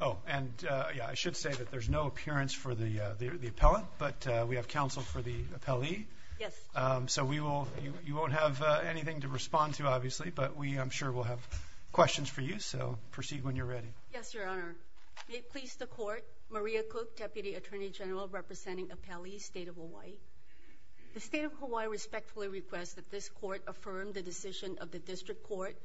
Oh and yeah I should say that there's no appearance for the the appellant but we have counsel for the appellee. Yes. So we will you won't have anything to respond to obviously but we I'm sure we'll have questions for you so proceed when you're ready. Yes Your Honor. May it please the court Maria Cook deputy attorney general representing appellee state of Hawaii. The state of Hawaii respectfully requests that this court affirm the decision of the district court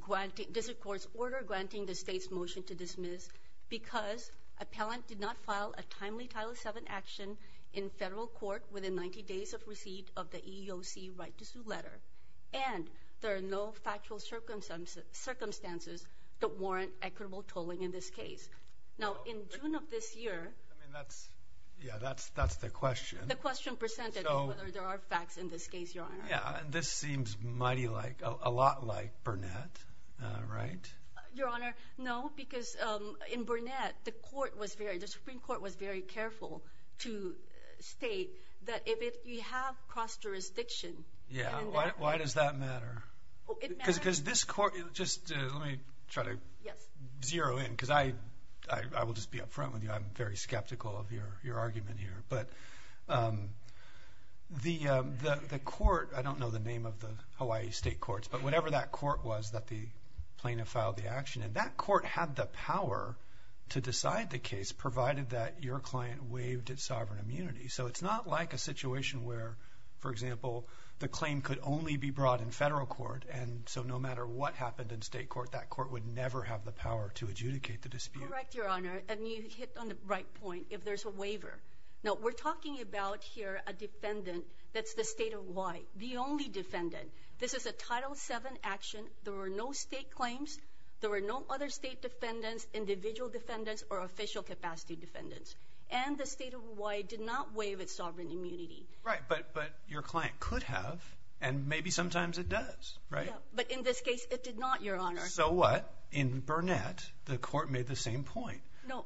granting district court's order granting the state's motion to dismiss because appellant did not file a timely title seven action in federal court within 90 days of receipt of the EEOC right to sue letter and there are no factual circumstances circumstances that warrant equitable tolling in this case. Now in June of this year. I mean that's yeah that's that's the question. The question presented whether there are facts in this case Your Honor. Yeah this seems mighty like a lot like Burnett right. Your Honor. No because in Burnett the court was very the Supreme Court was very careful to state that if you have cross jurisdiction. Yeah. Why does that matter. Because this court just let me try to zero in because I I will just be up front with you. I'm very skeptical of your argument here but the the court I don't know the name of the Hawaii state courts but whatever that court was that the plaintiff filed the action and that court had the power to decide the case provided that your client waived its sovereign immunity. So it's not like a situation where for example the claim could only be brought in federal court and so no matter what happened in state court that court would never have the power to adjudicate the dispute. Correct waiver. Now we're talking about here a defendant that's the state of Hawaii. The only defendant. This is a title 7 action. There were no state claims. There were no other state defendants, individual defendants, or official capacity defendants. And the state of Hawaii did not waive its sovereign immunity. Right but but your client could have and maybe sometimes it does right. But in this case it did not Your Honor. So what in Burnett the court made the same point. No.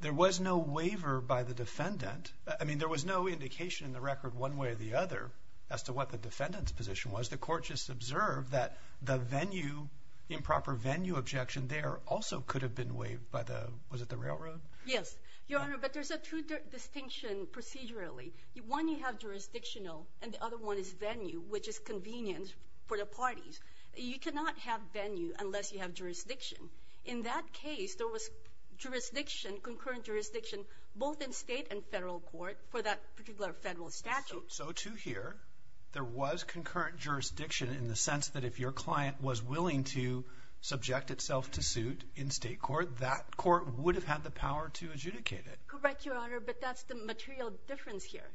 There was no waiver by the defendant. I mean there was no indication in the record one way or the other as to what the defendant's position was. The court just observed that the venue improper venue objection there also could have been waived by the was it the railroad? Yes Your Honor but there's a true distinction procedurally. One you have jurisdictional and the other one is venue which is convenient for the parties. You cannot have venue unless you have jurisdiction. In that case there was jurisdiction concurrent jurisdiction both in state and federal court for that particular federal statute. So to hear there was concurrent jurisdiction in the sense that if your client was willing to subject itself to suit in state court that court would have had the power to adjudicate it. Correct Your Honor but that's the material difference here.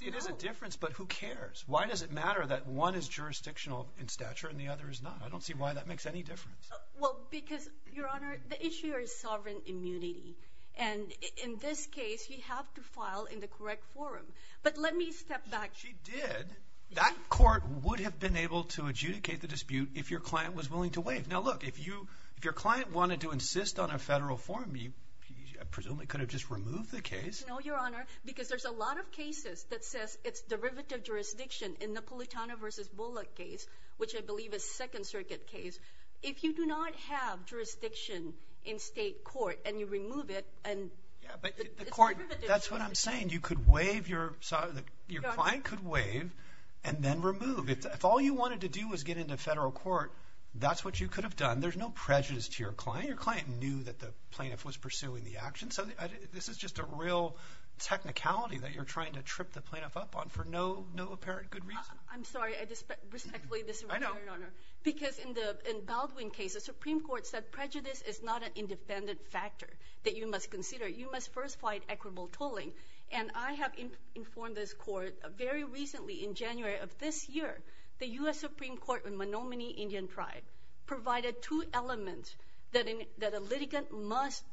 It is a difference but who cares? Why does it matter that one is jurisdictional in any difference? Well because Your Honor the issue is sovereign immunity and in this case you have to file in the correct forum but let me step back. She did. That court would have been able to adjudicate the dispute if your client was willing to waive. Now look if you if your client wanted to insist on a federal forum you presumably could have just removed the case. No Your Honor because there's a lot of cases that says it's derivative jurisdiction in the If you do not have jurisdiction in state court and you remove it and yeah but the court that's what I'm saying you could waive your your client could waive and then remove. If all you wanted to do was get into federal court that's what you could have done. There's no prejudice to your client. Your client knew that the plaintiff was pursuing the action so this is just a real technicality that you're trying to trip the plaintiff up on for no no apparent good reason. I'm case the Supreme Court said prejudice is not an independent factor that you must consider. You must first fight equitable tolling and I have informed this court very recently in January of this year the US Supreme Court in Menominee Indian Tribe provided two elements that in that a litigant must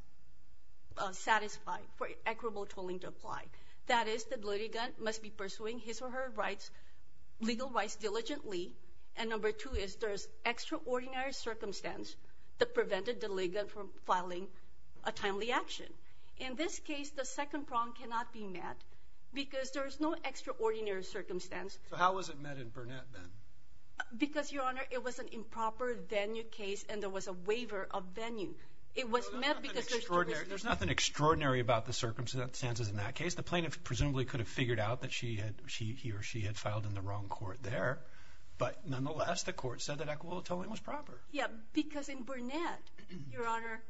satisfy for equitable tolling to apply. That is the litigant must be pursuing his or her rights legal rights diligently and number two is there's extraordinary circumstance that prevented the litigant from filing a timely action. In this case the second prong cannot be met because there's no extraordinary circumstance. So how was it met in Burnett then? Because your honor it was an improper venue case and there was a waiver of venue. It was met because there's nothing extraordinary about the circumstances in that case. The plaintiff presumably could have figured out that he or she had filed in the wrong court there but nonetheless the court said that equitable tolling was proper. Yeah because in Burnett your honor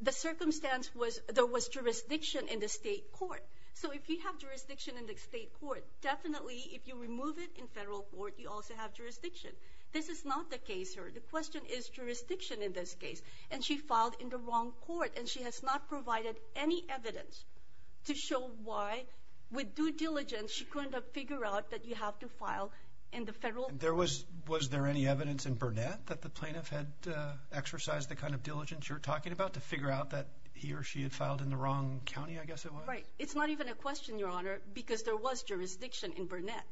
the circumstance was there was jurisdiction in the state court so if you have jurisdiction in the state court definitely if you remove it in federal court you also have jurisdiction. This is not the case here. The question is jurisdiction in this case and she filed in the wrong court and she has not provided any evidence to show why with due diligence she couldn't have figured out that you have to file in the federal. There was was there any evidence in Burnett that the plaintiff had exercised the kind of diligence you're talking about to figure out that he or she had filed in the wrong County I guess it was. Right it's not even a question your honor because there was jurisdiction in Burnett.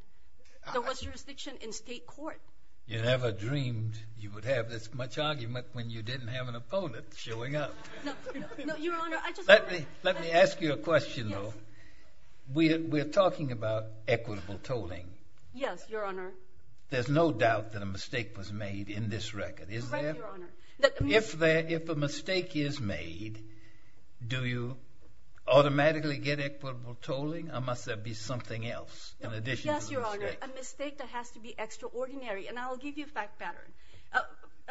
There was jurisdiction in state court. You never dreamed you would have this much argument when you didn't have an opponent showing up. Let me ask you a question though. We're talking about equitable tolling. Yes your honor. There's no doubt that a mistake was made in this record is there? If a mistake is made do you automatically get equitable tolling or must there be something else in addition? Yes your honor a mistake that has to be extraordinary and I'll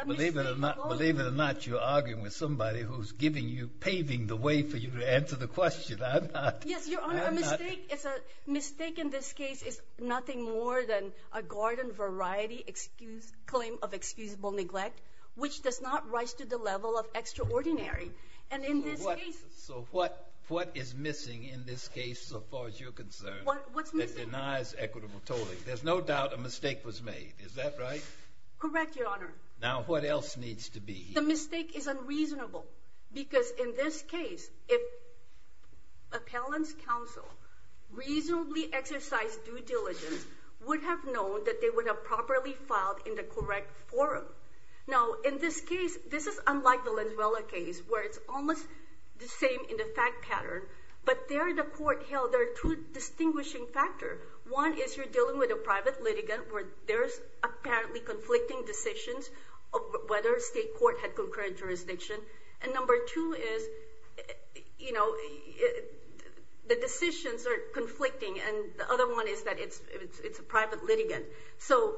Believe it or not you're arguing with somebody who's giving you paving the way for you to answer the question. I'm not. Yes your honor a mistake is a mistake in this case is nothing more than a garden variety excuse claim of excusable neglect which does not rise to the level of extraordinary and in this case. So what what is missing in this case so far as you're concerned? What's missing? That denies equitable tolling. There's no doubt a mistake was made. What else needs to be? The mistake is unreasonable because in this case if appellant's counsel reasonably exercised due diligence would have known that they would have properly filed in the correct forum. Now in this case this is unlike the Lenzuela case where it's almost the same in the fact pattern but there the court held there are two distinguishing factors. One is you're dealing with a whether state court had concurrent jurisdiction and number two is you know the decisions are conflicting and the other one is that it's it's a private litigant. So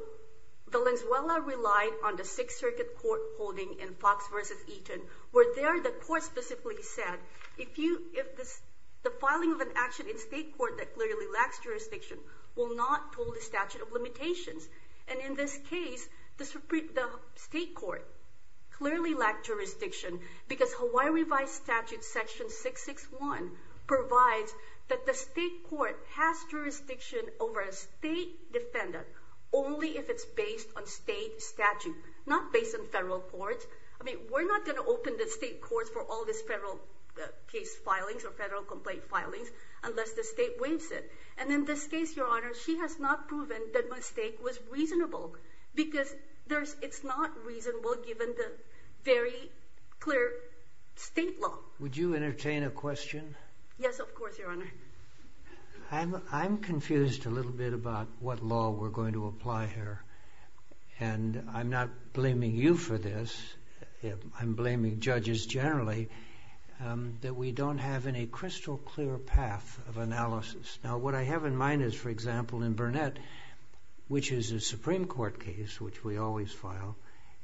the Lenzuela relied on the Sixth Circuit court holding in Fox versus Eaton where there the court specifically said if you if this the filing of an action in state court that clearly lacks jurisdiction will not toll the statute of limitations and in this case the Supreme the state court clearly lacked jurisdiction because Hawaii revised statute section 661 provides that the state court has jurisdiction over a state defendant only if it's based on state statute not based on federal courts. I mean we're not going to open the state courts for all this federal case filings or federal complaint filings unless the state waives it and in this case your honor she has not proven that mistake was reasonable because there's it's not reasonable given the very clear state law. Would you entertain a question? Yes of course your honor. I'm confused a little bit about what law we're going to apply here and I'm not blaming you for this I'm blaming judges generally that we don't have any crystal clear path of analysis. Now what I have in mind is for example in Burnett which is a Supreme Court case which we always file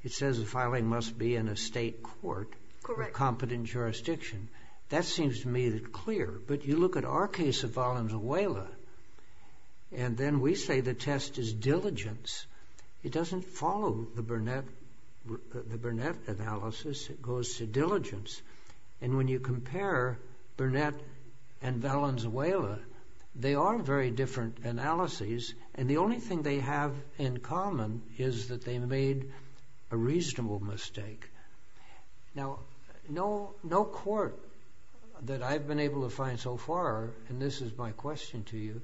it says the filing must be in a state court correct competent jurisdiction that seems to me that clear but you look at our case of Valenzuela and then we say the test is diligence it doesn't follow the Burnett the Burnett analysis it goes to diligence and when you compare Burnett and Valenzuela they are very different analyses and the only thing they have in common is that they made a reasonable mistake. Now no no court that I've been able to find so far and this is my question to you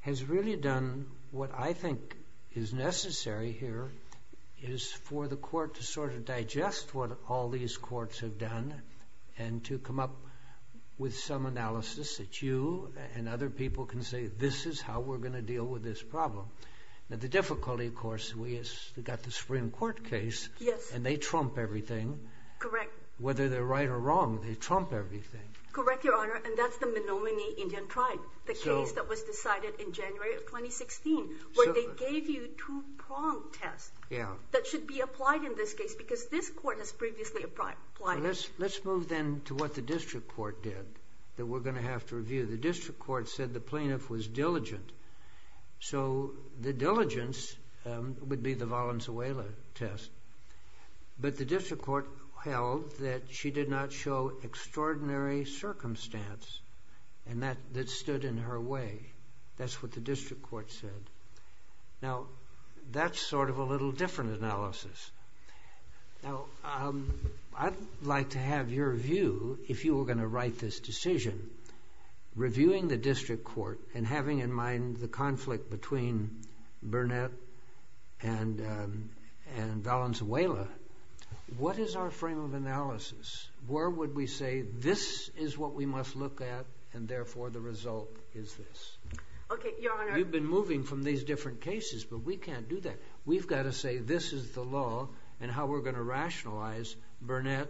has really done what I think is necessary here is for the court to sort of digest what all these courts have done and to come up with some analysis that you and other people can say this is how we're going to deal with this problem. Now the difficulty of course we got the Supreme Court case yes and they trump everything correct whether they're right or wrong they trump everything. Correct your honor and that's the Menominee Indian tribe the case that was decided in January of 2016 where they gave you two prong tests yeah that should be applied in this case because this court has previously applied it. Let's move then to what the district court did that we're going to have to review the district court said the plaintiff was diligent so the diligence would be the Valenzuela test but the district court held that she did not show extraordinary circumstance and that that stood in her way that's what the district court said. Now that's sort of a little different analysis. Now I'd like to have your view if you were going to write this decision reviewing the district court and having in mind the conflict between Burnett and Valenzuela what is our frame of analysis where would we say this is what we must look at and therefore the result is this. Okay you've got to say this is the law and how we're going to rationalize Burnett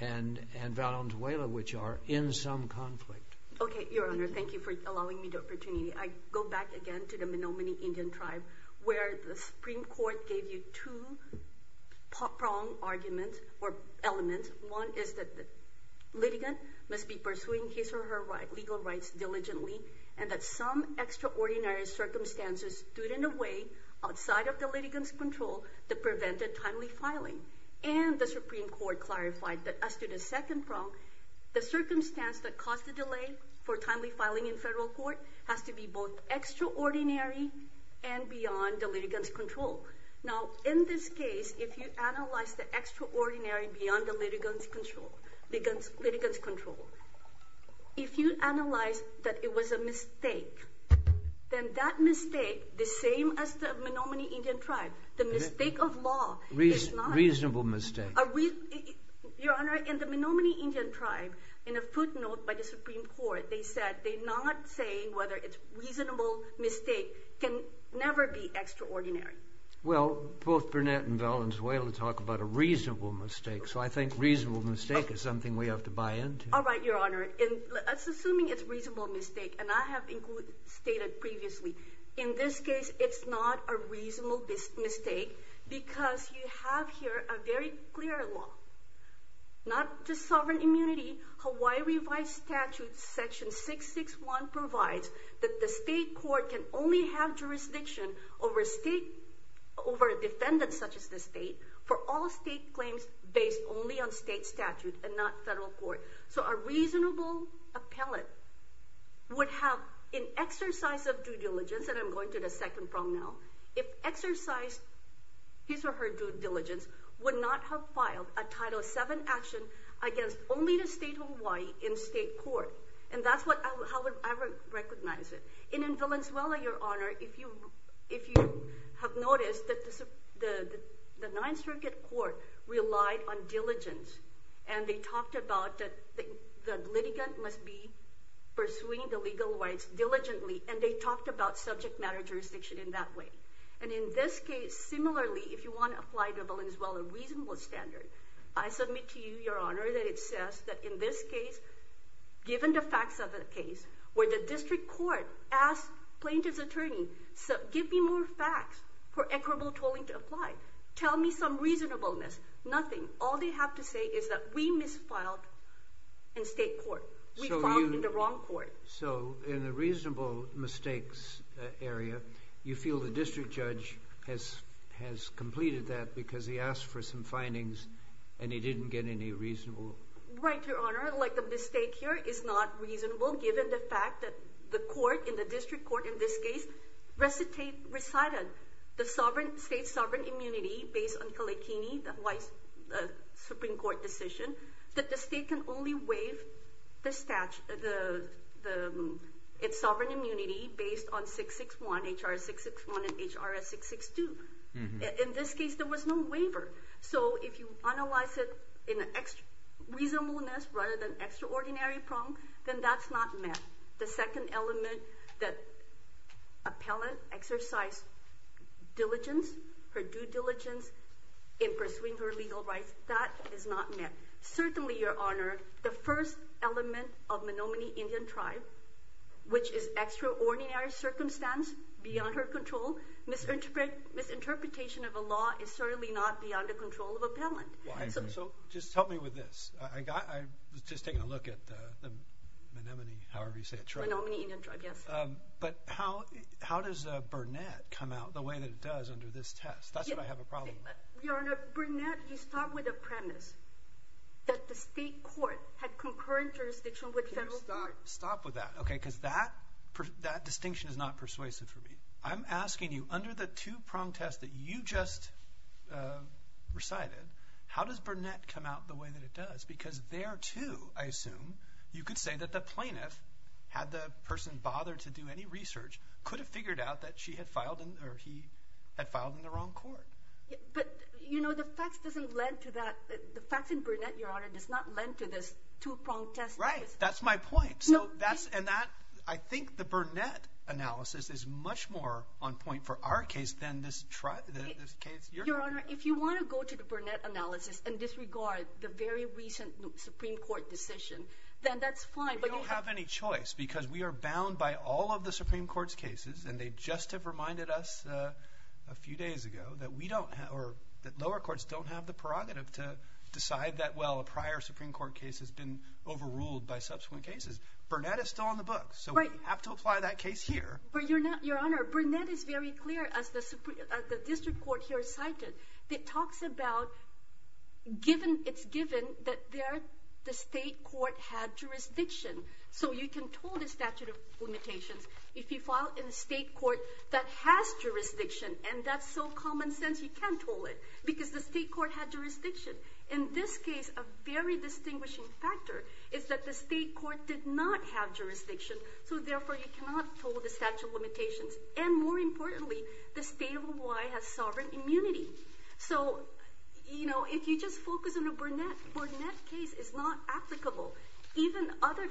and Valenzuela which are in some conflict. Okay your honor thank you for allowing me the opportunity I go back again to the Menominee Indian tribe where the Supreme Court gave you two prong arguments or elements one is that the litigant must be pursuing his or her right legal rights diligently and that some extraordinary circumstances stood in a way outside of the litigants control that prevented timely filing and the Supreme Court clarified that as to the second prong the circumstance that caused the delay for timely filing in federal court has to be both extraordinary and beyond the litigants control. Now in this case if you analyze the extraordinary beyond the litigants control litigants control if you analyze that it was a mistake then that mistake the same as the Menominee Indian tribe the mistake of law. Reasonable mistake. Your honor in the Menominee Indian tribe in a footnote by the Supreme Court they said they're not saying whether it's reasonable mistake can never be extraordinary. Well both Burnett and Valenzuela talk about a reasonable mistake is something we have to buy into. All right your honor in assuming it's reasonable mistake and I have included stated previously in this case it's not a reasonable mistake because you have here a very clear law not just sovereign immunity Hawaii revised statute section 661 provides that the state court can only have jurisdiction over state over a defendant such as the state for all state claims based only on state statute and not federal court. So a reasonable appellate would have an exercise of due diligence and I'm going to the second prong now if exercised his or her due diligence would not have filed a title 7 action against only the state of Hawaii in state court and that's what how would I recognize it. And in Valenzuela your honor if you if you have noticed that the Ninth Circuit Court relied on diligence and they talked about that the litigant must be pursuing the legal rights diligently and they talked about subject matter jurisdiction in that way and in this case similarly if you want to apply to Valenzuela a reasonable standard I submit to you your honor that it says that in this case given the facts of the case where the district court asked plaintiff's attorney so give me more facts for equitable tolling to apply tell me some reasonableness nothing all they have to say is that we misfiled in state court. We filed in the wrong court. So in a reasonable mistakes area you feel the district judge has has completed that because he asked for some findings and he didn't get any reasonable. Right your honor given the fact that the court in the district court in this case recited recited the sovereign state sovereign immunity based on Kaleikini the Hawaii's Supreme Court decision that the state can only waive the statute the its sovereign immunity based on 661 HR 661 and HR 662. In this case there was no waiver so if you analyze it in an extra reasonableness rather than the second element that appellant exercised diligence her due diligence in pursuing her legal rights that is not met. Certainly your honor the first element of Menominee Indian tribe which is extraordinary circumstance beyond her control misinterpret misinterpretation of a law is certainly not beyond the control of appellant. So just help me with this I got I was just taking a look at the Menominee however you say it tribe but how how does a Burnett come out the way that it does under this test that's what I have a problem with. Your honor Burnett he stopped with a premise that the state court had concurrent jurisdiction with federal court. Stop with that okay because that that distinction is not persuasive for me. I'm asking you under the two-prong test that you just recited how does Burnett come out the way that it does because there too I assume you could say that the plaintiff had the person bothered to do any research could have figured out that she had filed in or he had filed in the wrong court. But you know the facts doesn't lend to that the facts in Burnett your honor does not lend to this two-prong test. Right that's my point so that's and that I think the Burnett analysis is much more on point for our case than this tribe. Your in this regard the very recent Supreme Court decision then that's fine. We don't have any choice because we are bound by all of the Supreme Court's cases and they just have reminded us a few days ago that we don't have or that lower courts don't have the prerogative to decide that well a prior Supreme Court case has been overruled by subsequent cases. Burnett is still on the books so we have to apply that case here. But your honor Burnett is very clear as the given it's given that there the state court had jurisdiction so you can tell the statute of limitations if you file in a state court that has jurisdiction and that's so common sense you can't tell it because the state court had jurisdiction. In this case a very distinguishing factor is that the state court did not have jurisdiction so therefore you cannot tell the statute limitations and more importantly the state of Hawaii has sovereign immunity. So you know if you just focus on a Burnett Burnett case is not applicable even other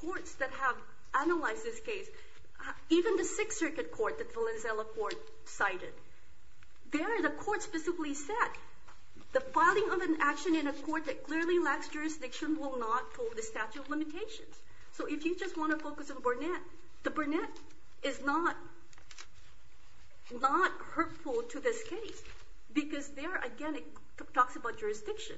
courts that have analyzed this case even the Sixth Circuit Court that Valenzuela Court cited there the court specifically said the filing of an action in a court that clearly lacks jurisdiction will not hold the statute of limitations. So if you just want to focus on Burnett the Burnett is not not to this case because there again it talks about jurisdiction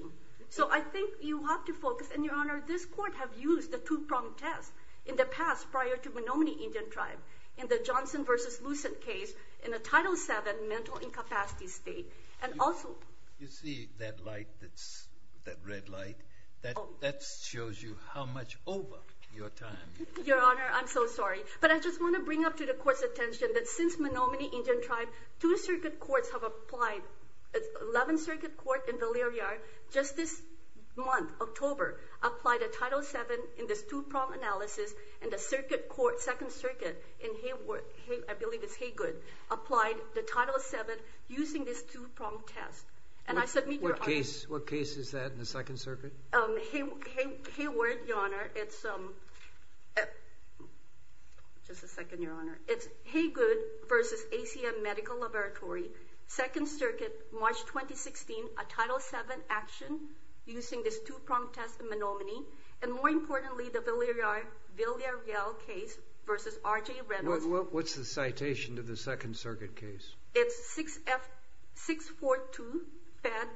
so I think you have to focus and your honor this court have used the two-pronged test in the past prior to Menominee Indian Tribe in the Johnson versus Lucent case in a Title VII mental incapacity state and also you see that light that's that red light that that shows you how much over your time. Your honor I'm so sorry but I just want to bring up to the court's attention that since Menominee Indian Tribe two circuit courts have applied it's 11th Circuit Court in Valeriyar just this month October applied a Title VII in this two-pronged analysis and a circuit court Second Circuit in Hayward I believe it's Haygood applied the Title VII using this two-pronged test and I submit your honor. What case is that in the Second Circuit? Hayward your honor it's um just a second your honor it's Haygood versus ACM Medical Laboratory Second Circuit March 2016 a Title VII action using this two-pronged test in Menominee and more importantly the Valeriyar Villarreal case versus R.J. Reynolds. What's the citation to the Second Circuit case? It's 6F 642 fed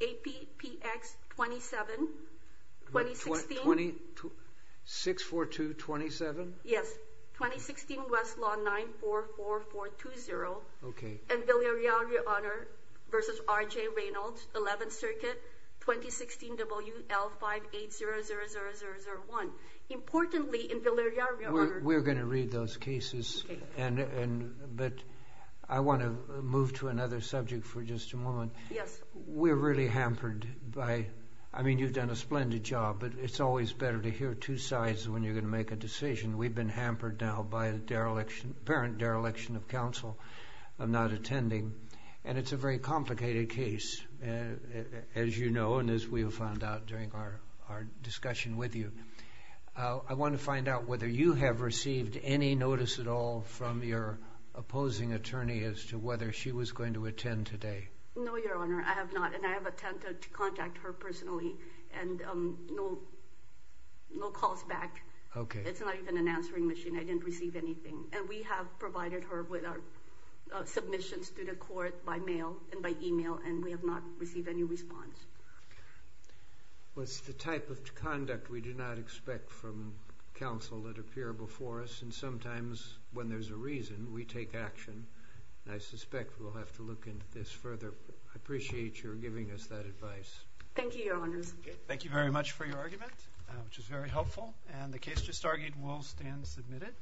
APPX 27 2016. 642 27? Yes. 2016 Westlaw 944420. Okay. And Valeriyar your honor versus R.J. Reynolds 11th Circuit 2016 WL 5800001. Importantly in Valeriyar your honor. We're gonna read those cases and and but I want to move to another subject for just a moment. Yes. We're really hampered by I mean you've done a splendid job but it's always better to hear two sides when you're gonna make a decision we've been hampered now by a dereliction parent dereliction of counsel of not attending and it's a very complicated case as you know and as we have found out during our our discussion with you I want to find out whether you have received any notice at all from your opposing attorney as to whether she was going to attend today. No your honor I have not and I have attempted to contact her personally and no calls back. Okay. It's not even an answering machine I didn't receive anything and we have provided her with our submissions to the court by mail and by email and we have not received any response. What's the type of conduct we do not expect from counsel that appear before us and sometimes when there's a reason we take action I suspect we'll have to look into this further. I much for your argument which is very helpful and the case just argued will stand submitted.